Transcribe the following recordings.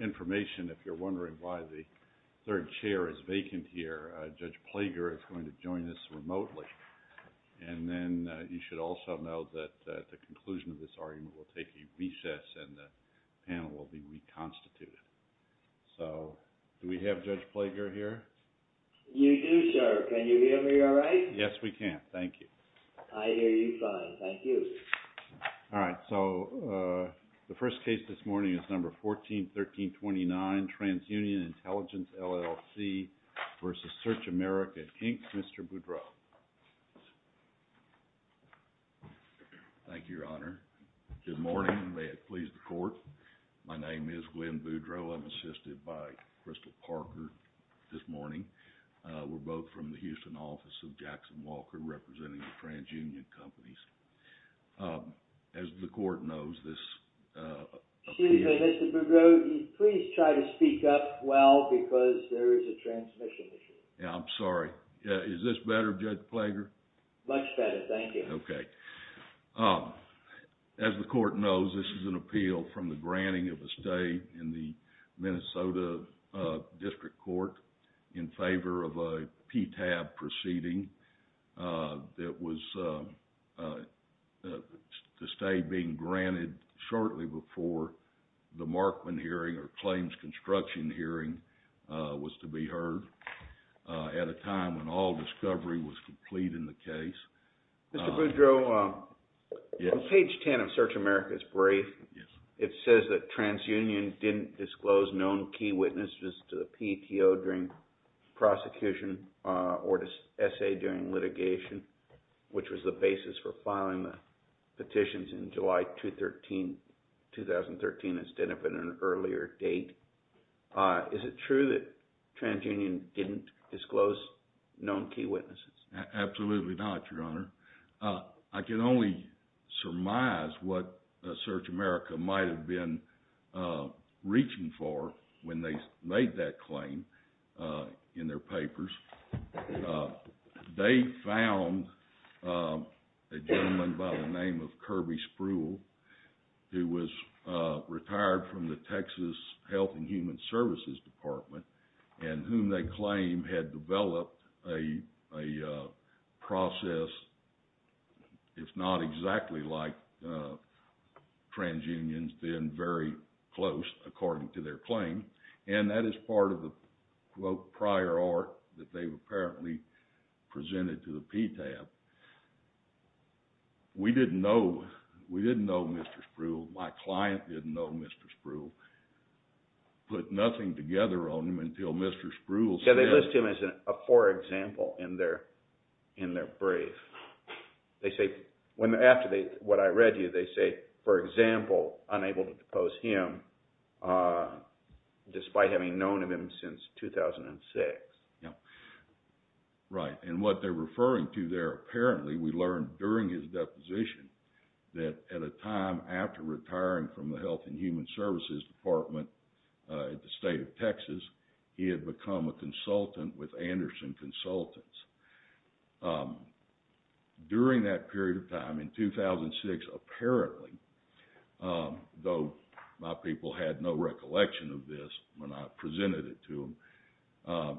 information if you're wondering why the third chair is vacant here, Judge Plager is going to join us remotely. And then you should also know that at the conclusion of this argument we'll take a recess and the panel will be reconstituted. So do we have Judge Plager here? You do, sir. Can you hear me all right? Yes, we can. Thank you. I hear you fine. Thank you, Your Honor. Good morning. May it please the court. My name is Glenn Boudreaux. I'm assisted by Crystal Parker this morning. We're both from the Houston office of Jackson Walker representing the transunion companies. As the court knows this... Excuse me, Mr. Boudreaux, please try to speak up well because there is a transmission issue. Yeah, I'm sorry. Is this better, Judge Plager? Much better, thank you. Okay. As the court knows, this is an appeal from the granting of a stay in the Minnesota District Court in favor of a TAB proceeding that was... the stay being granted shortly before the Markman hearing or claims construction hearing was to be heard at a time when all discovery was complete in the case. Mr. Boudreaux, on page 10 of Search America's brief, it says that transunion didn't disclose known key witnesses to the PTO during prosecution or to SA during litigation, which was the basis for filing the petitions in July 2013 instead of an earlier date. Is it true that transunion didn't disclose known key witnesses? Absolutely not, Your Honor. I can only surmise what Search America might have been reaching for when they made that claim in their papers. They found a gentleman by the name of Kirby Spruill who was retired from the Texas Health and Human Services Department and whom they claimed had developed a process if not exactly like transunions, then very close according to their claim. And that is part of the quote prior art that they apparently presented to the PTAB. We didn't know Mr. Spruill. My client didn't know Mr. Spruill. Put nothing together on him until Mr. Spruill said... Yeah, they list him as a poor example in their brief. They say, after what I read to you, they say, for example, unable to depose him despite having known of him since 2006. Yeah. Right. And what they're referring to there, apparently, we learned during his deposition that at a time after retiring from the Health and Human Services Department at the State of Texas, he had become a consultant with Anderson Consultants. During that period of time, in 2006, apparently, though my people had no recollection of this when I presented it to them,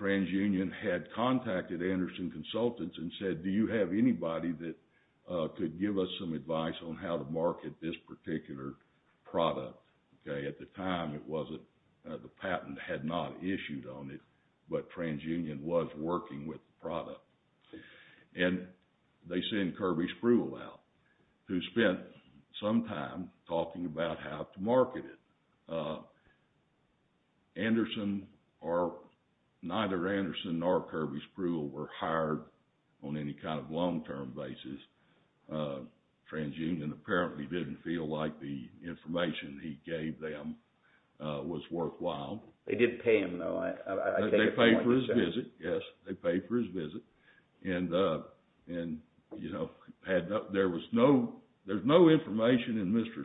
TransUnion had contacted Anderson Consultants and said, do you have anybody that could give us some advice on how to market this particular product? At the time, the patent had not issued on it, but TransUnion was working with the product. And they sent Kirby Spruill out, who spent some time talking about how to market it. Neither Anderson nor Kirby Spruill were hired on any kind of long-term basis. TransUnion apparently didn't feel like the information he gave them was worthwhile. They did pay him, though. I take your point. They paid for his visit. Yes, they paid for his visit. And, you know, there was no... from Mr.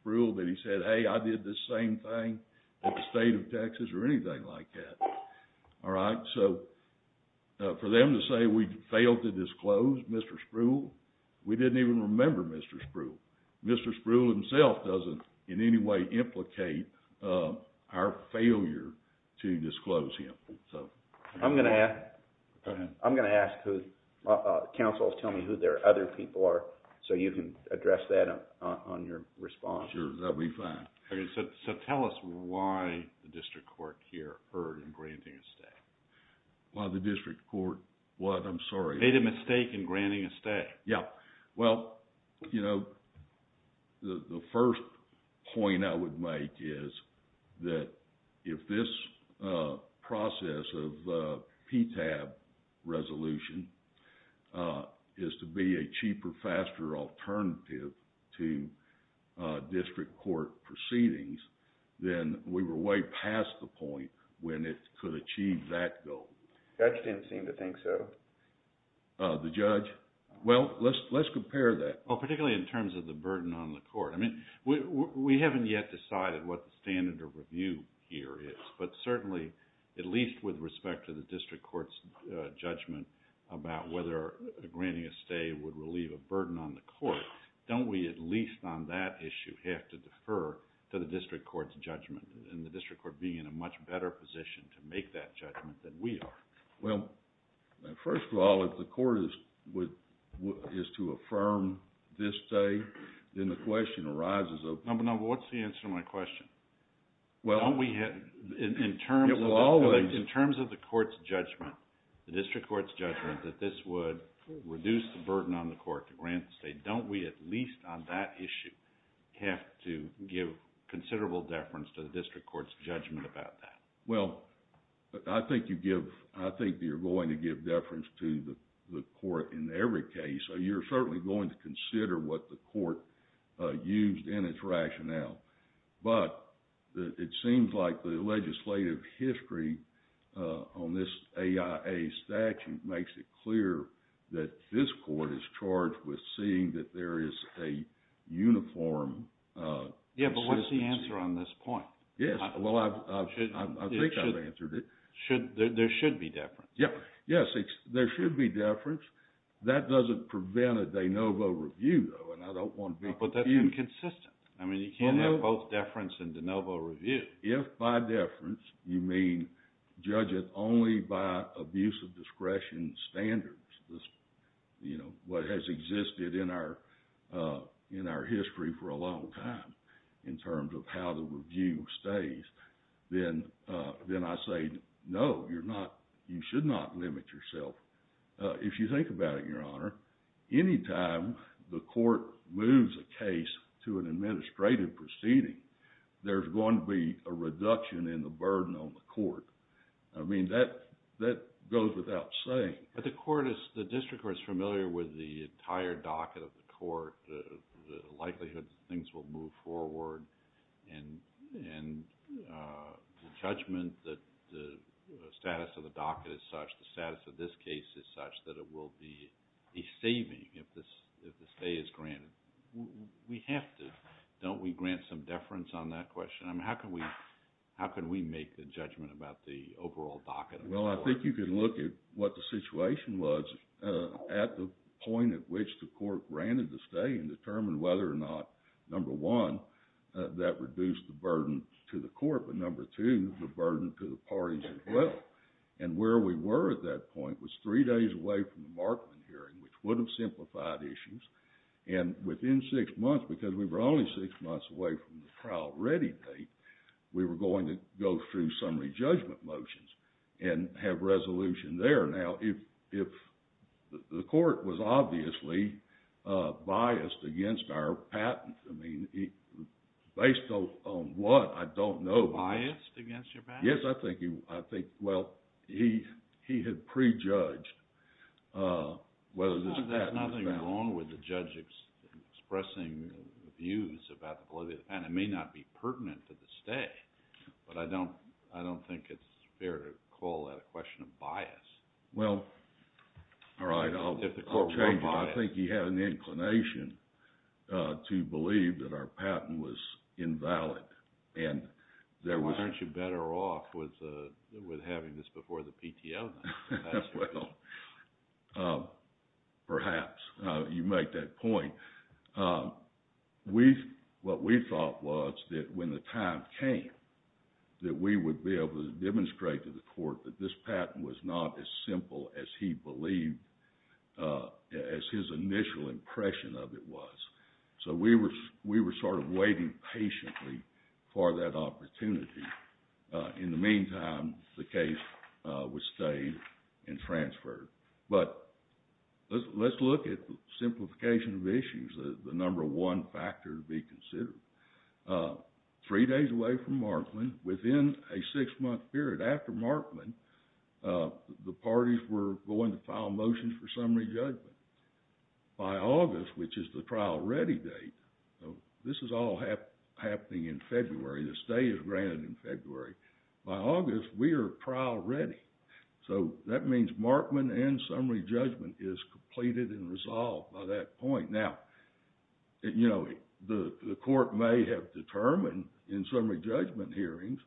Spruill that he said, hey, I did this same thing at the State of Texas or anything like that. All right? So, for them to say we failed to disclose Mr. Spruill, we didn't even remember Mr. Spruill. Mr. Spruill himself doesn't in any way implicate our failure to disclose him. I'm going to ask... Go ahead. I'm going to ask who... So you can address that on your response. Sure, that would be fine. So tell us why the district court here erred in granting a stay. Why the district court what? I'm sorry. Made a mistake in granting a stay. Yeah. Well, you know, the first point I would make is that if this process of PTAB resolution is to be a cheaper, faster alternative to district court proceedings, then we were way past the point when it could achieve that goal. Judge didn't seem to think so. The judge? Well, let's compare that. Well, particularly in terms of the burden on the court. I mean, we haven't yet decided what the standard of review here is. But certainly, at least with respect to the district court's judgment about whether granting a stay would relieve a burden on the court, don't we at least on that issue have to defer to the district court's judgment and the district court being in a much better position to make that judgment than we are? Well, first of all, if the court is to affirm this stay, then the question arises of... No, but what's the answer to my question? Well... Don't we have... It will always... In the district court's judgment that this would reduce the burden on the court to grant a stay, don't we at least on that issue have to give considerable deference to the district court's judgment about that? Well, I think you give... I think you're going to give deference to the court in every case. You're certainly going to consider what the court used in its rationale. But it seems like the legislative history on this AIA statute makes it clear that this court is charged with seeing that there is a uniform consistency. Yeah, but what's the answer on this point? Yes, well, I think I've answered it. There should be deference. Yes, there should be deference. That doesn't prevent a de novo review, though, and I don't want to be confused. But that's inconsistent. I mean, you can't have both deference and de novo review. If by deference you mean judge it only by abuse of discretion standards, you know, what has existed in our history for a long time in terms of how the review stays, then I say no, you're not... You should not limit yourself. If you think about it, Your Honor, any time the court moves a case to an administrative proceeding, there's going to be a reduction in the burden on the court. I mean, that goes without saying. But the court is... The district court is familiar with the entire docket of the court, the likelihood that things will move forward, and the judgment that the status of the docket is such, the status of this case is such, that it will be a saving if the stay is granted. We have to. Don't we grant some deference on that question? I mean, how can we make the judgment about the overall docket of the court? Well, I think you can look at what the situation was at the point at which the court granted the stay and determine whether or not, number one, that reduced the burden to the court, but number two, the burden to the parties as well. And where we were at that point was three days away from the Markman hearing, which would have simplified issues. And within six months, because we were only six months away from the trial ready date, we were going to go through summary judgment motions and have resolution there. Now, if the court was obviously biased against our patent, I mean, based on what, I don't know. Biased against your patent? Yes, I think, well, he had prejudged whether this patent was valid. There's nothing wrong with the judge expressing views about the validity of the patent. It may not be pertinent to the stay, but I don't think it's fair to call that a question of bias. Well, all right. If the court were biased. I think he had an inclination to believe that our patent was invalid. Well, aren't you better off with having this before the PTO? Well, perhaps. You make that point. What we thought was that when the time came that we would be able to demonstrate to the court that this patent was not as simple as he believed, as his initial impression of it was. So we were sort of waiting patiently for that opportunity. In the meantime, the case was stayed and transferred. But let's look at simplification of issues. The number one factor to be considered. Three days away from Markman, within a six-month period after Markman, the parties were going to file motions for summary judgment. By August, which is the trial ready date, this is all happening in February. The stay is granted in February. By August, we are trial ready. So that means Markman and summary judgment is completed and resolved by that point. Now, the court may have determined in summary judgment hearings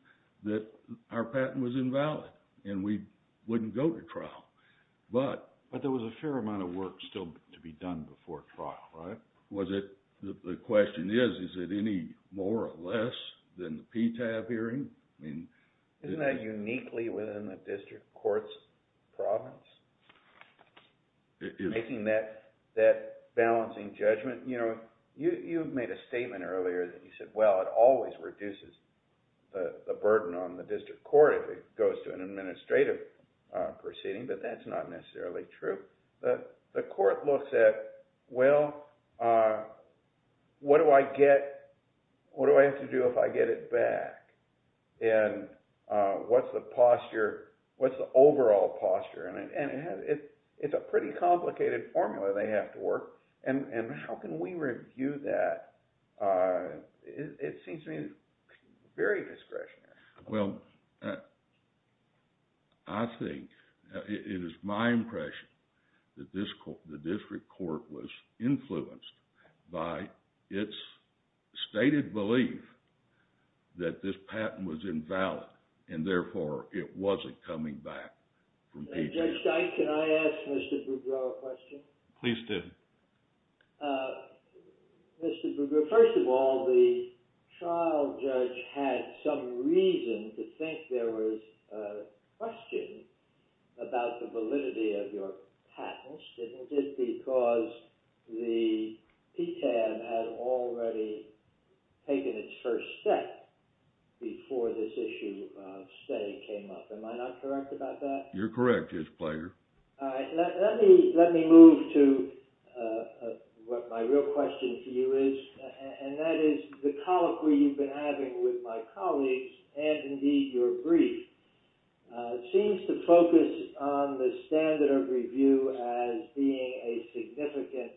that our patent was invalid and we wouldn't go to trial. But there was a fair amount of work still to be done before trial, right? The question is, is it any more or less than the PTAB hearing? Isn't that uniquely within the district court's province? Making that balancing judgment. You made a statement earlier that you said, well, it always reduces the burden on the district court if it goes to an administrative proceeding, but that's not necessarily true. The court looks at, well, what do I have to do if I get it back? And what's the posture? What's the overall posture? And it's a pretty complicated formula they have to work. And how can we review that? It seems to me very discretionary. Well, I think it is my impression that the district court was influenced by its stated belief that this patent was invalid and therefore it wasn't coming back from PTAB. Judge Dyke, can I ask Mr. Bougrow a question? Please do. Mr. Bougrow, first of all, the trial judge had some reason to think there was a question about the validity of your patents, didn't it? Because the PTAB had already taken its first step before this issue of stay came up. Am I not correct about that? You're correct, Judge Plager. All right. Let me move to what my real question to you is. And that is the colloquy you've been having with my colleagues and, indeed, your brief seems to focus on the standard of review as being a significant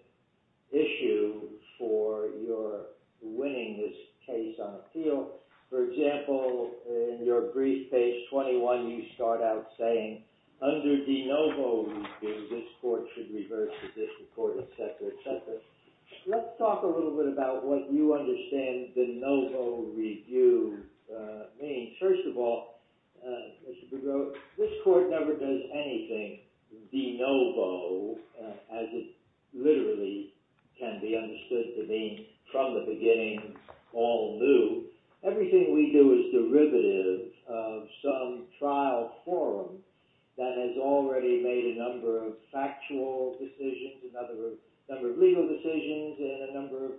issue for your winning this case on appeal. So, for example, in your brief, page 21, you start out saying, under de novo review, this court should reverse the district court, et cetera, et cetera. Let's talk a little bit about what you understand de novo review means. First of all, Mr. Bougrow, this court never does anything de novo, as it literally can be understood to mean from the beginning, all new. Everything we do is derivative of some trial forum that has already made a number of factual decisions, a number of legal decisions, and a number of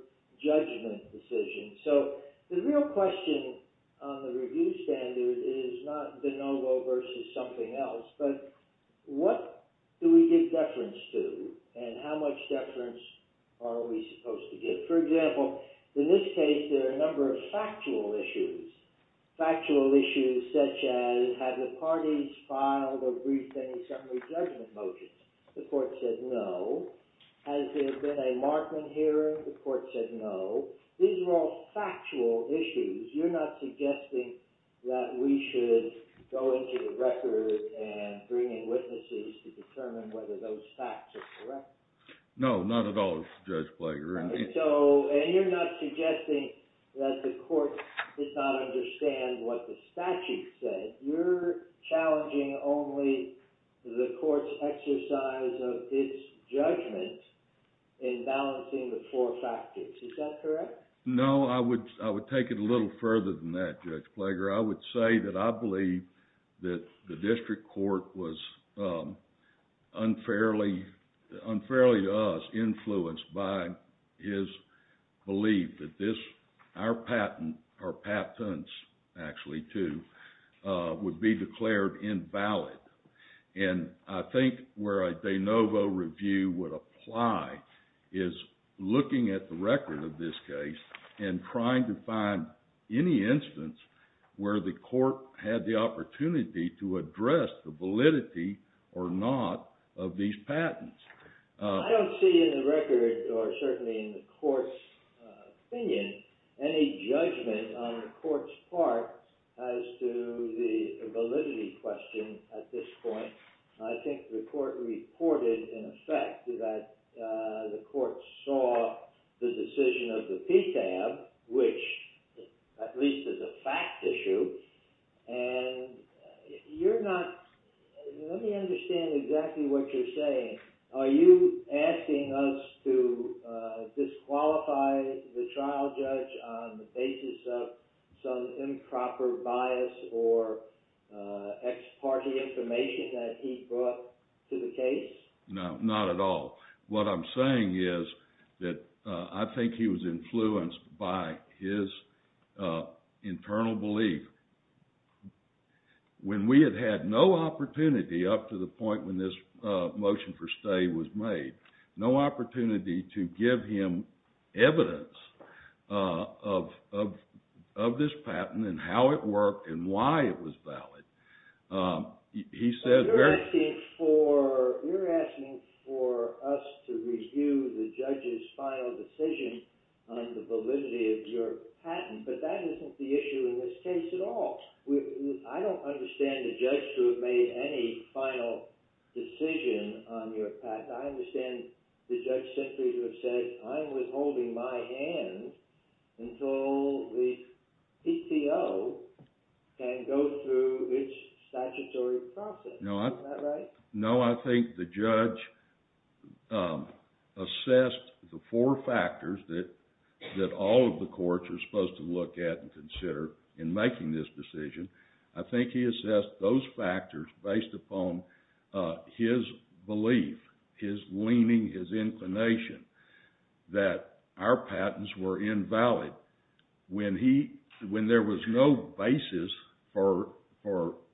judgment decisions. So the real question on the review standard is not de novo versus something else, but what do we give deference to, and how much deference are we supposed to give? For example, in this case, there are a number of factual issues, factual issues such as have the parties filed or briefed any summary judgment motions? The court said no. Has there been a Markman hearing? The court said no. These are all factual issues. You're not suggesting that we should go into the record and bring in witnesses to determine whether those facts are correct? No, not at all, Judge Blager. And you're not suggesting that the court did not understand what the statute said. You're challenging only the court's exercise of its judgment in balancing the four factors. Is that correct? No, I would take it a little further than that, Judge Blager. I would say that I believe that the district court was unfairly, unfairly to us, influenced by his belief that this, our patent or patents actually too, would be declared invalid. And I think where a de novo review would apply is looking at the record of this case and trying to find any instance where the court had the opportunity to address the validity or not of these patents. I don't see in the record, or certainly in the court's opinion, any judgment on the court's part as to the validity question at this point. I think the court reported, in effect, that the court saw the decision of the PTAB, which at least is a fact issue. And you're not, let me understand exactly what you're saying. Are you asking us to disqualify the trial judge on the basis of some improper bias or ex parte information that he brought to the case? No, not at all. What I'm saying is that I think he was influenced by his internal belief. When we had had no opportunity up to the point when this motion for stay was made, no opportunity to give him evidence of this patent and how it worked and why it was valid. You're asking for us to review the judge's final decision on the validity of your patent, but that isn't the issue in this case at all. I don't understand the judge to have made any final decision on your patent. I understand the judge simply to have said, I'm withholding my hand until the PTO can go through its statutory process. Is that right? No, I think the judge assessed the four factors that all of the courts are supposed to look at and consider in making this decision. I think he assessed those factors based upon his belief, his leaning, his inclination, that our patents were invalid when there was no basis for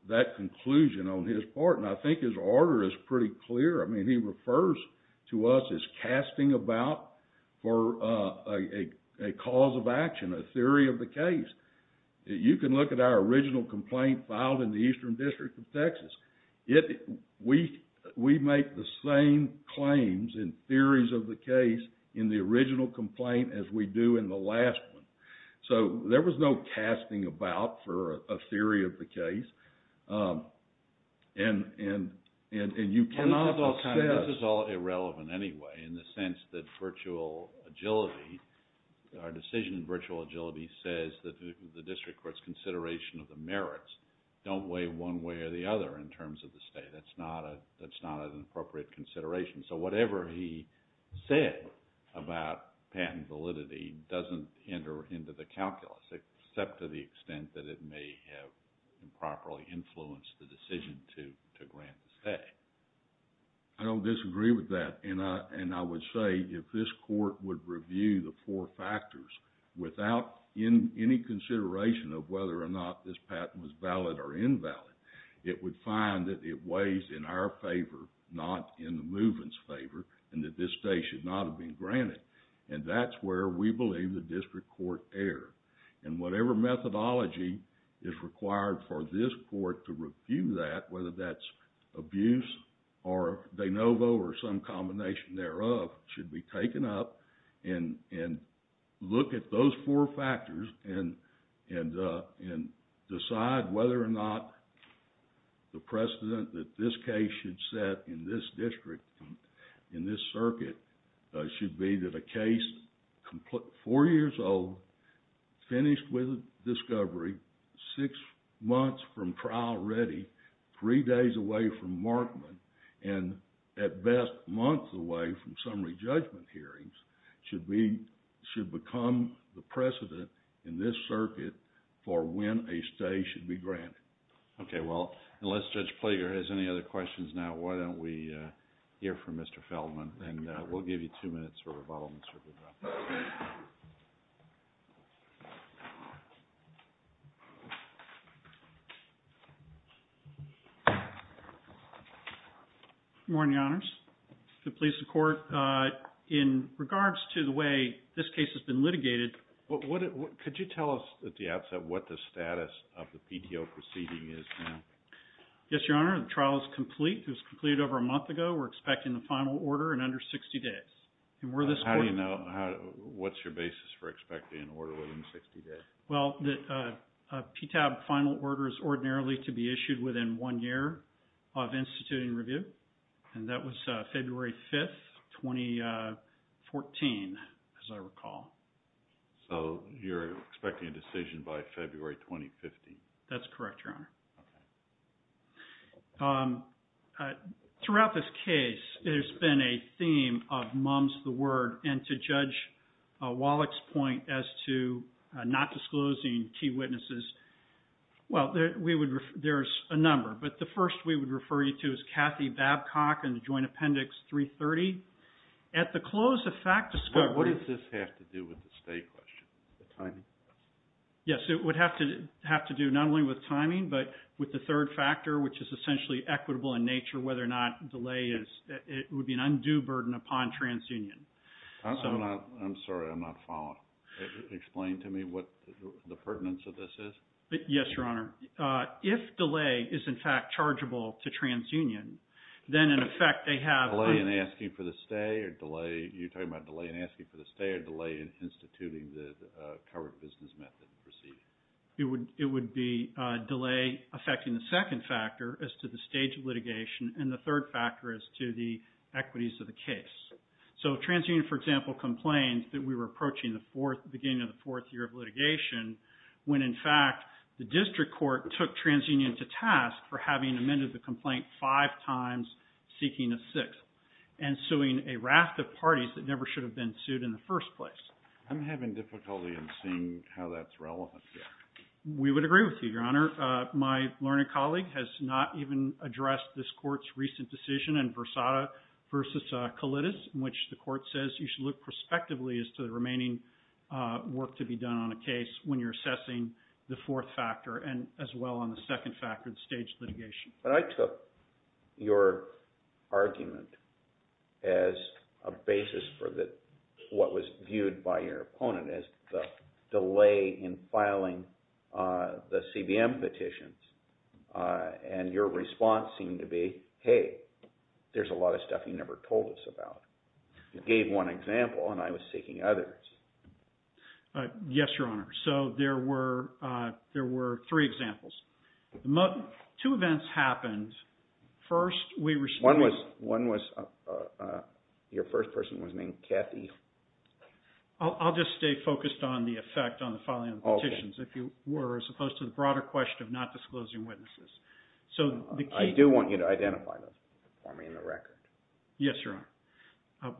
that conclusion on his part. I think his order is pretty clear. He refers to us as casting about for a cause of action, a theory of the case. You can look at our original complaint filed in the Eastern District of Texas. We make the same claims and theories of the case in the original complaint as we do in the last one. There was no casting about for a theory of the case, and you cannot assess. This is all irrelevant anyway in the sense that virtual agility, our decision in virtual agility says that the district court's consideration of the merits don't weigh one way or the other in terms of the state. That's not an appropriate consideration. So whatever he said about patent validity doesn't enter into the calculus except to the extent that it may have improperly influenced the decision to grant the stay. I don't disagree with that, and I would say if this court would review the four factors without any consideration of whether or not this patent was valid or invalid, it would find that it weighs in our favor, not in the movement's favor, and that this stay should not have been granted. That's where we believe the district court erred. Whatever methodology is required for this court to review that, whether that's abuse or de novo or some combination thereof, should be taken up and look at those four factors and decide whether or not the precedent that this case should set in this district, in this circuit, should be that a case four years old, finished with a discovery, six months from trial ready, three days away from markment, and at best months away from summary judgment hearings, should become the precedent in this circuit for when a stay should be granted. Okay, well, unless Judge Plager has any other questions now, why don't we hear from Mr. Feldman, and we'll give you two minutes for rebuttal in the circuit room. Good morning, Your Honors. The police and court, in regards to the way this case has been litigated. Could you tell us at the outset what the status of the PDO proceeding is now? Yes, Your Honor. The trial is complete. It was completed over a month ago. We're expecting the final order in under 60 days. How do you know? What's your basis for expecting an order within 60 days? Well, the PTAB final order is ordinarily to be issued within one year of instituting review, and that was February 5th, 2014, as I recall. So you're expecting a decision by February 2015? That's correct, Your Honor. Okay. Throughout this case, there's been a theme of mums the word, and to Judge Wallach's point as to not disclosing key witnesses, well, there's a number. But the first we would refer you to is Kathy Babcock in the Joint Appendix 330. At the close of fact discovery... What does this have to do with the stay question, the timing? Yes, it would have to do not only with timing, but with the third factor, which is essentially equitable in nature, whether or not delay would be an undue burden upon TransUnion. I'm sorry, I'm not following. Explain to me what the pertinence of this is. Yes, Your Honor. If delay is, in fact, chargeable to TransUnion, then in effect they have... Delay in asking for the stay or delay... You're talking about delay in asking for the stay or delay in instituting the covered business method proceeding? It would be delay affecting the second factor as to the stage of litigation, and the third factor as to the equities of the case. So TransUnion, for example, complained that we were approaching the beginning of the fourth year of litigation when, in fact, the district court took TransUnion to task for having amended the complaint five times, seeking a sixth, and suing a raft of parties that never should have been sued in the first place. I'm having difficulty in seeing how that's relevant here. We would agree with you, Your Honor. My learned colleague has not even addressed this court's recent decision in Versada v. Kalitas, in which the court says you should look prospectively as to the remaining work to be done on a case when you're assessing the fourth factor, as well on the second factor, the stage of litigation. But I took your argument as a basis for what was viewed by your opponent as the delay in filing the CBM petitions, and your response seemed to be, hey, there's a lot of stuff you never told us about. You gave one example, and I was seeking others. Yes, Your Honor. So there were three examples. Two events happened. First, we responded. One was your first person was named Kathy. I'll just stay focused on the effect on the filing of the petitions, if you were, as opposed to the broader question of not disclosing witnesses. I do want you to identify them for me in the record. Yes, Your Honor.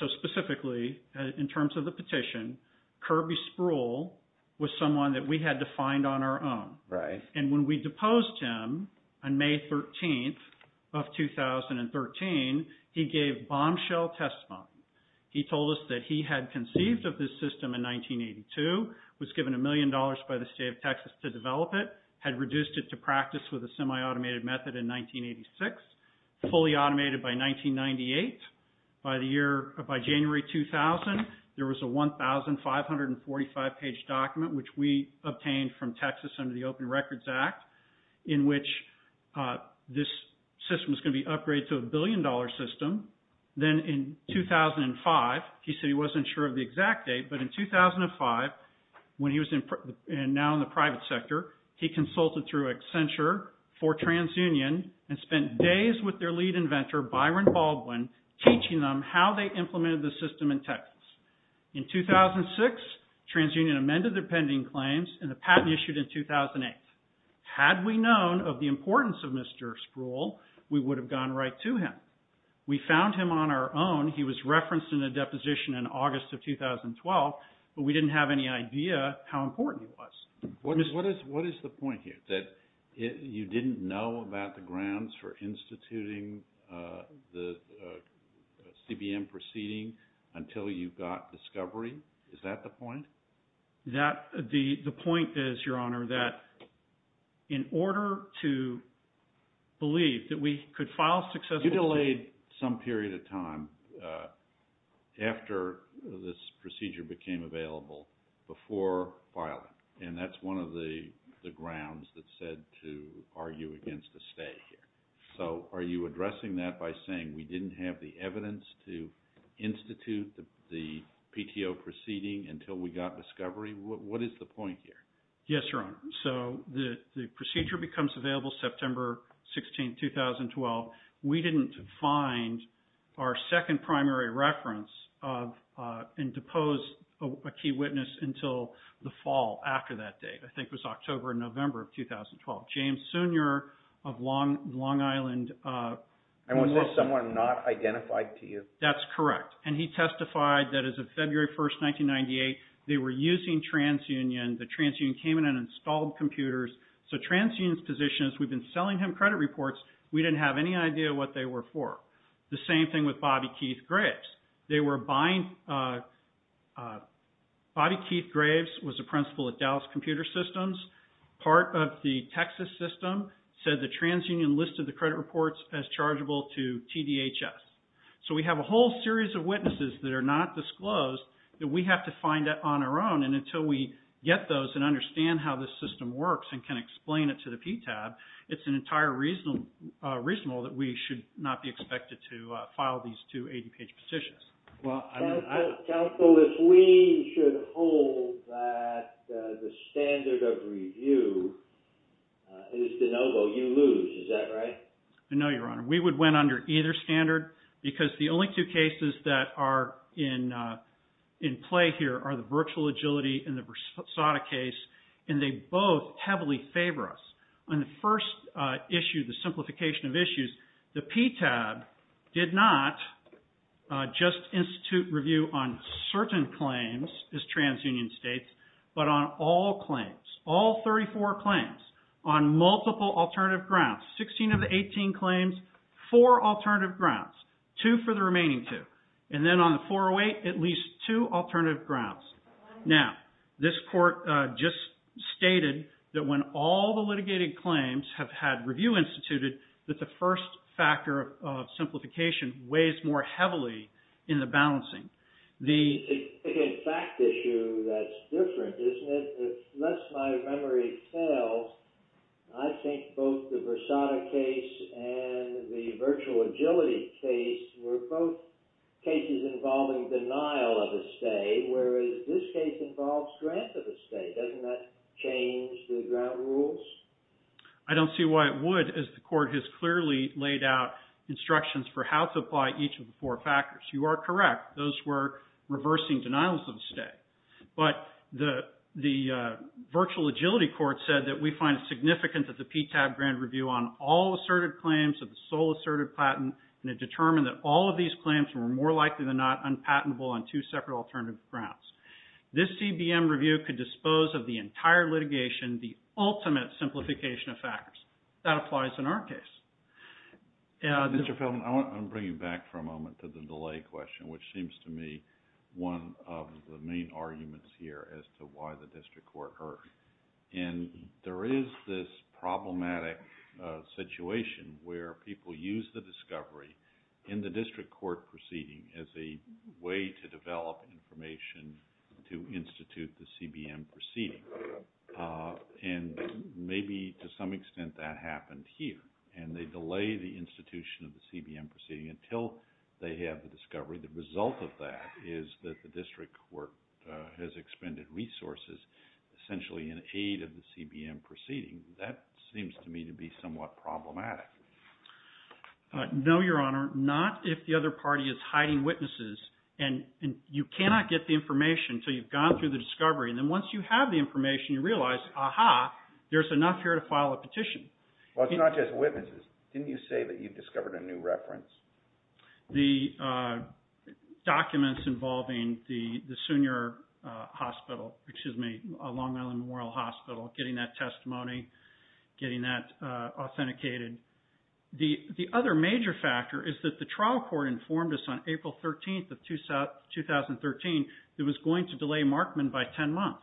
So specifically, in terms of the petition, Kirby Spruill was someone that we had to find on our own. Right. And when we deposed him on May 13th of 2013, he gave bombshell testimony. He told us that he had conceived of this system in 1982, was given a million dollars by the state of Texas to develop it, had reduced it to practice with a semi-automated method in 1986, fully automated by 1998. By January 2000, there was a 1,545-page document, which we obtained from Texas under the Open Records Act, in which this system was going to be upgraded to a billion-dollar system. Then in 2005, he said he wasn't sure of the exact date, but in 2005, when he was now in the private sector, he consulted through Accenture for TransUnion and spent days with their lead inventor, Byron Baldwin, teaching them how they implemented the system in Texas. In 2006, TransUnion amended their pending claims, and the patent issued in 2008. Had we known of the importance of Mr. Spruill, we would have gone right to him. We found him on our own. He was referenced in a deposition in August of 2012, but we didn't have any idea how important he was. What is the point here, that you didn't know about the grounds for instituting the CBM proceeding until you got discovery? Is that the point? The point is, Your Honor, that in order to believe that we could file successfully— and that's one of the grounds that said to argue against a stay here. So are you addressing that by saying we didn't have the evidence to institute the PTO proceeding until we got discovery? What is the point here? Yes, Your Honor. So the procedure becomes available September 16, 2012. We didn't find our second primary reference and depose a key witness until the fall after that date. I think it was October or November of 2012. James Sooner of Long Island— And was this someone not identified to you? That's correct. And he testified that as of February 1, 1998, they were using TransUnion. The TransUnion came in and installed computers. So TransUnion's position is we've been selling him credit reports. We didn't have any idea what they were for. The same thing with Bobby Keith Graves. They were buying—Bobby Keith Graves was a principal at Dallas Computer Systems. Part of the Texas system said that TransUnion listed the credit reports as chargeable to TDHS. So we have a whole series of witnesses that are not disclosed that we have to find on our own. And until we get those and understand how this system works and can explain it to the PTAB, it's an entire reasonable that we should not be expected to file these two 80-page petitions. Counsel, if we should hold that the standard of review is de novo, you lose. Is that right? No, Your Honor. We would win under either standard because the only two cases that are in play here are the virtual agility and the Versada case, and they both heavily favor us. On the first issue, the simplification of issues, the PTAB did not just institute review on certain claims as TransUnion states, but on all claims, all 34 claims, on multiple alternative grounds. Sixteen of the 18 claims, four alternative grounds. Two for the remaining two. And then on the 408, at least two alternative grounds. Now, this court just stated that when all the litigated claims have had review instituted, that the first factor of simplification weighs more heavily in the balancing. It's a fact issue that's different, isn't it? The less my memory tells, I think both the Versada case and the virtual agility case were both cases involving denial of estate, whereas this case involves grant of estate. Doesn't that change the grant rules? I don't see why it would, as the court has clearly laid out instructions for how to apply each of the four factors. You are correct. Those were reversing denials of estate. But the virtual agility court said that we find it significant that the PTAB grant review on all asserted claims of the sole asserted patent and it determined that all of these claims were more likely than not unpatentable on two separate alternative grounds. This CBM review could dispose of the entire litigation, the ultimate simplification of factors. That applies in our case. Mr. Feldman, I want to bring you back for a moment to the delay question, which seems to me one of the main arguments here as to why the district court heard. And there is this problematic situation where people use the discovery in the district court proceeding as a way to develop information to institute the CBM proceeding. And maybe to some extent that happened here. And they delay the institution of the CBM proceeding until they have the discovery. The result of that is that the district court has expended resources essentially in aid of the CBM proceeding. That seems to me to be somewhat problematic. No, Your Honor, not if the other party is hiding witnesses. And you cannot get the information until you've gone through the discovery. And then once you have the information, you realize, aha, there's enough here to file a petition. Well, it's not just witnesses. Didn't you say that you discovered a new reference? The documents involving the Sunior Hospital, excuse me, Long Island Memorial Hospital, getting that testimony, getting that authenticated. The other major factor is that the trial court informed us on April 13th of 2013 that it was going to delay Markman by 10 months.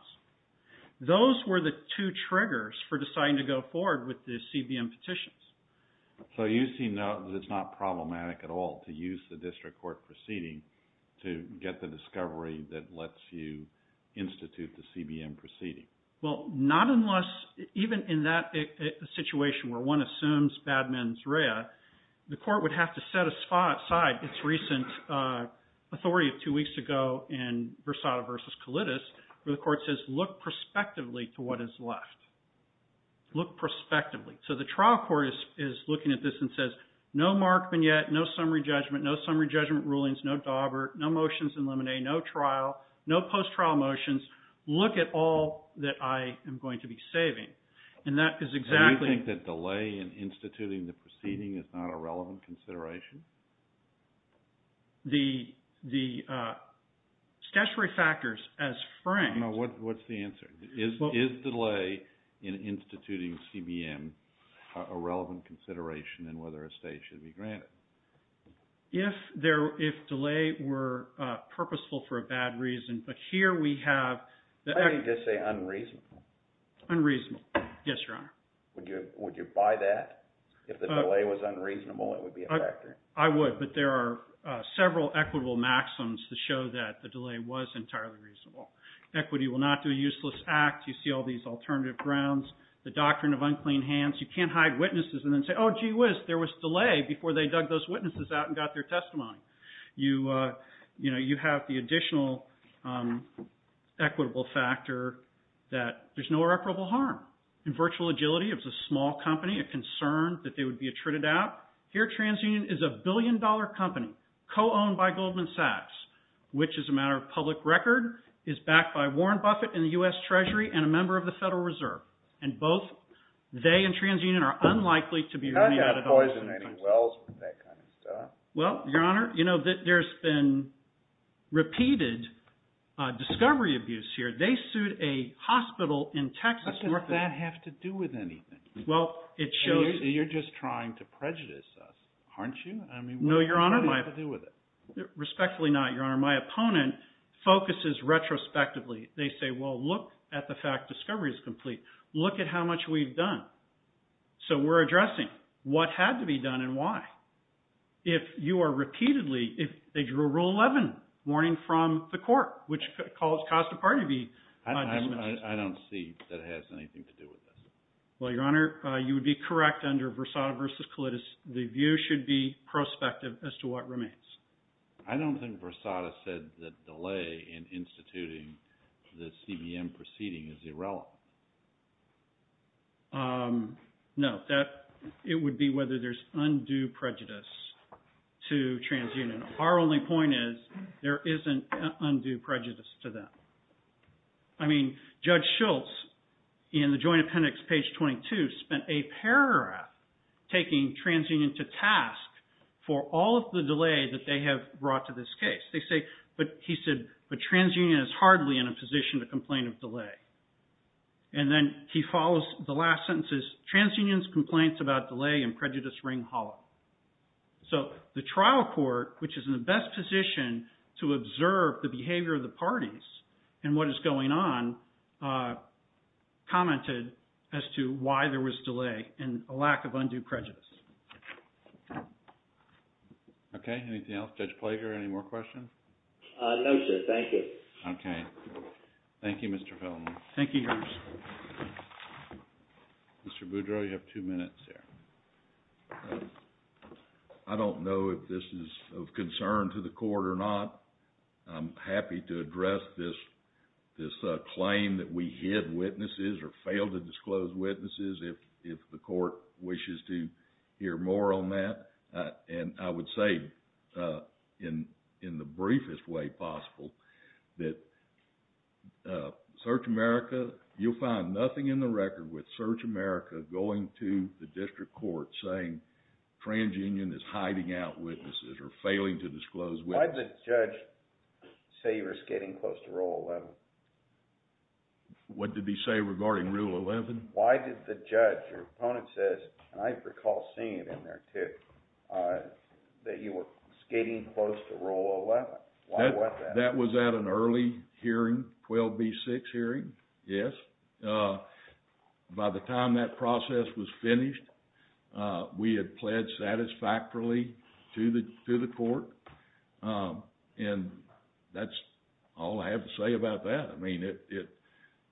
Those were the two triggers for deciding to go forward with the CBM petitions. So you see now that it's not problematic at all to use the district court proceeding to get the discovery that lets you institute the CBM proceeding. Well, not unless, even in that situation where one assumes bad men's read, the court would have to set aside its recent authority of two weeks ago in Versada v. Colitis where the court says, look prospectively to what is left. Look prospectively. So the trial court is looking at this and says, no Markman yet, no summary judgment, no summary judgment rulings, no dauber, no motions in limine, no trial, no post-trial motions. Look at all that I am going to be saving. Do you think that delay in instituting the proceeding is not a relevant consideration? The statutory factors as framed... What's the answer? Is delay in instituting CBM a relevant consideration in whether a stay should be granted? If delay were purposeful for a bad reason, but here we have... I would just say unreasonable. Unreasonable. Yes, Your Honor. Would you buy that? If the delay was unreasonable, it would be a factor. I would, but there are several equitable maxims to show that the delay was entirely reasonable. Equity will not do a useless act. You see all these alternative grounds. The doctrine of unclean hands. You can't hide witnesses and then say, oh gee whiz, there was delay before they dug those witnesses out and got their testimony. You have the additional equitable factor that there's no irreparable harm. In virtual agility, it was a small company, a concern that they would be attrited out. Here, TransUnion is a billion-dollar company, co-owned by Goldman Sachs, which is a matter of public record, is backed by Warren Buffett and the U.S. Treasury and a member of the Federal Reserve. And both they and TransUnion are unlikely to be running out of dollars. How do you have poisoning wells and that kind of stuff? Well, Your Honor, there's been repeated discovery abuse here. They sued a hospital in Texas. What does that have to do with anything? You're just trying to prejudice us, aren't you? No, Your Honor. What does that have to do with it? Respectfully not, Your Honor. My opponent focuses retrospectively. They say, well, look at the fact discovery is complete. Look at how much we've done. So we're addressing what had to be done and why. If you are repeatedly, if they drew a Rule 11 warning from the court, which caused a party to be dismissed. I don't see that it has anything to do with this. Well, Your Honor, you would be correct under Versada v. Colitis. The view should be prospective as to what remains. I don't think Versada said the delay in instituting the CBM proceeding is irrelevant. No, it would be whether there's undue prejudice to TransUnion. Our only point is there isn't undue prejudice to them. I mean, Judge Schultz in the Joint Appendix, page 22, spent a paragraph taking TransUnion to task for all of the delay that they have brought to this case. They say, but he said, but TransUnion is hardly in a position to complain of delay. And then he follows the last sentence, TransUnion's complaints about delay and prejudice ring hollow. So the trial court, which is in the best position to observe the behavior of the parties and what is going on, commented as to why there was delay and a lack of undue prejudice. Okay. Anything else? Judge Plager, any more questions? No, sir. Thank you. Okay. Thank you, Mr. Feldman. Thank you, Judge. Mr. Boudreau, you have two minutes here. I don't know if this is of concern to the court or not. I'm happy to address this claim that we hid witnesses or failed to disclose witnesses if the court wishes to hear more on that. And I would say in the briefest way possible that Search America, you'll find nothing in the record with Search America going to the district court saying TransUnion is hiding out witnesses or failing to disclose witnesses. Why did the judge say you were skating close to Rule 11? What did he say regarding Rule 11? Why did the judge, your opponent says, and I recall seeing it in there too, that you were skating close to Rule 11. Why was that? That was at an early hearing, 12B6 hearing, yes. By the time that process was finished, we had pled satisfactorily to the court. And that's all I have to say about that. I mean,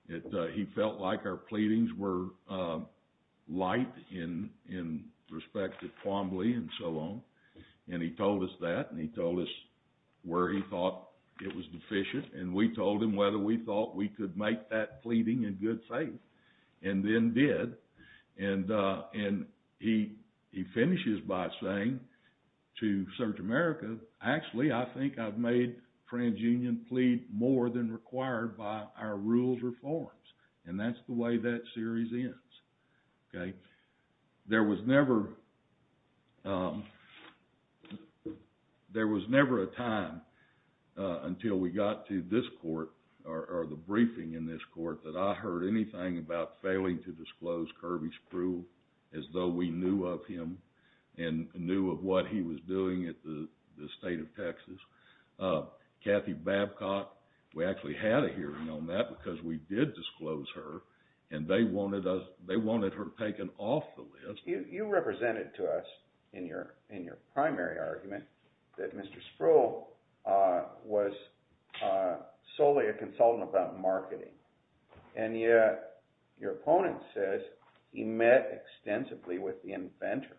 he felt like our pleadings were light in respect to Quambly and so on. And he told us that, and he told us where he thought it was deficient. And we told him whether we thought we could make that pleading in good faith. And then did. And he finishes by saying to Search America, actually, I think I've made TransUnion plead more than required by our rules or forms. And that's the way that series ends. There was never a time until we got to this court, or the briefing in this court, that I heard anything about failing to disclose Kirby Spruill, as though we knew of him and knew of what he was doing at the State of Texas. Kathy Babcock, we actually had a hearing on that because we did disclose her, and they wanted her taken off the list. You represented to us, in your primary argument, that Mr. Spruill was solely a consultant about marketing. And yet, your opponent says he met extensively with the inventor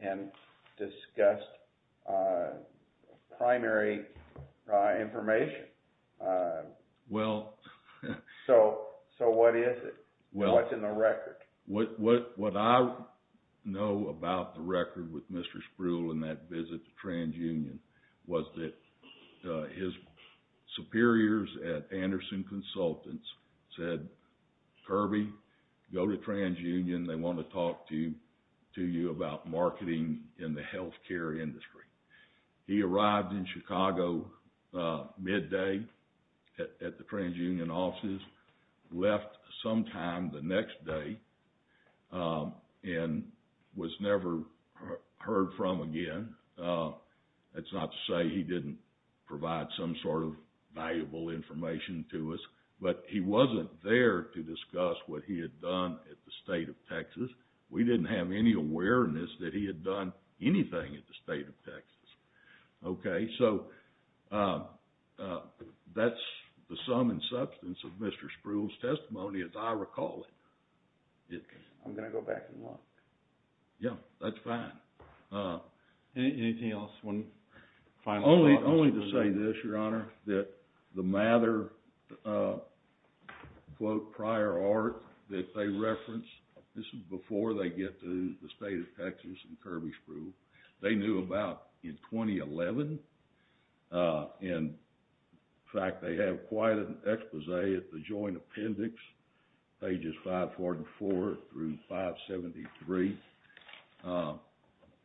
and discussed primary information. So what is it? What's in the record? What I know about the record with Mr. Spruill in that visit to TransUnion was that his superiors at Anderson Consultants said, Kirby, go to TransUnion. They want to talk to you about marketing in the healthcare industry. He arrived in Chicago midday at the TransUnion offices, left sometime the next day, and was never heard from again. That's not to say he didn't provide some sort of valuable information to us, but he wasn't there to discuss what he had done at the State of Texas. We didn't have any awareness that he had done anything at the State of Texas. That's the sum and substance of Mr. Spruill's testimony, as I recall it. I'm going to go back and look. Yeah, that's fine. Anything else? One final thought? Only to say this, Your Honor, that the Mather prior art that they referenced, this is before they get to the State of Texas and Kirby Spruill, they knew about in 2011. In fact, they have quite an exposé at the Joint Appendix, pages 544 through 573.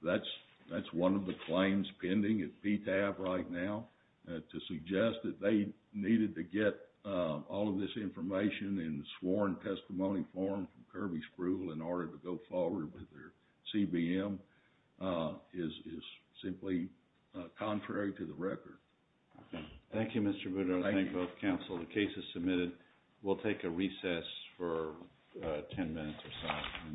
That's one of the claims pending at PTAP right now, to suggest that they needed to get all of this information in the sworn testimony form from Kirby Spruill in order to go forward with their CBM is simply contrary to the record. Thank you, Mr. Boudreaux, and thank you both, counsel. The case is submitted. We'll take a recess for ten minutes or so.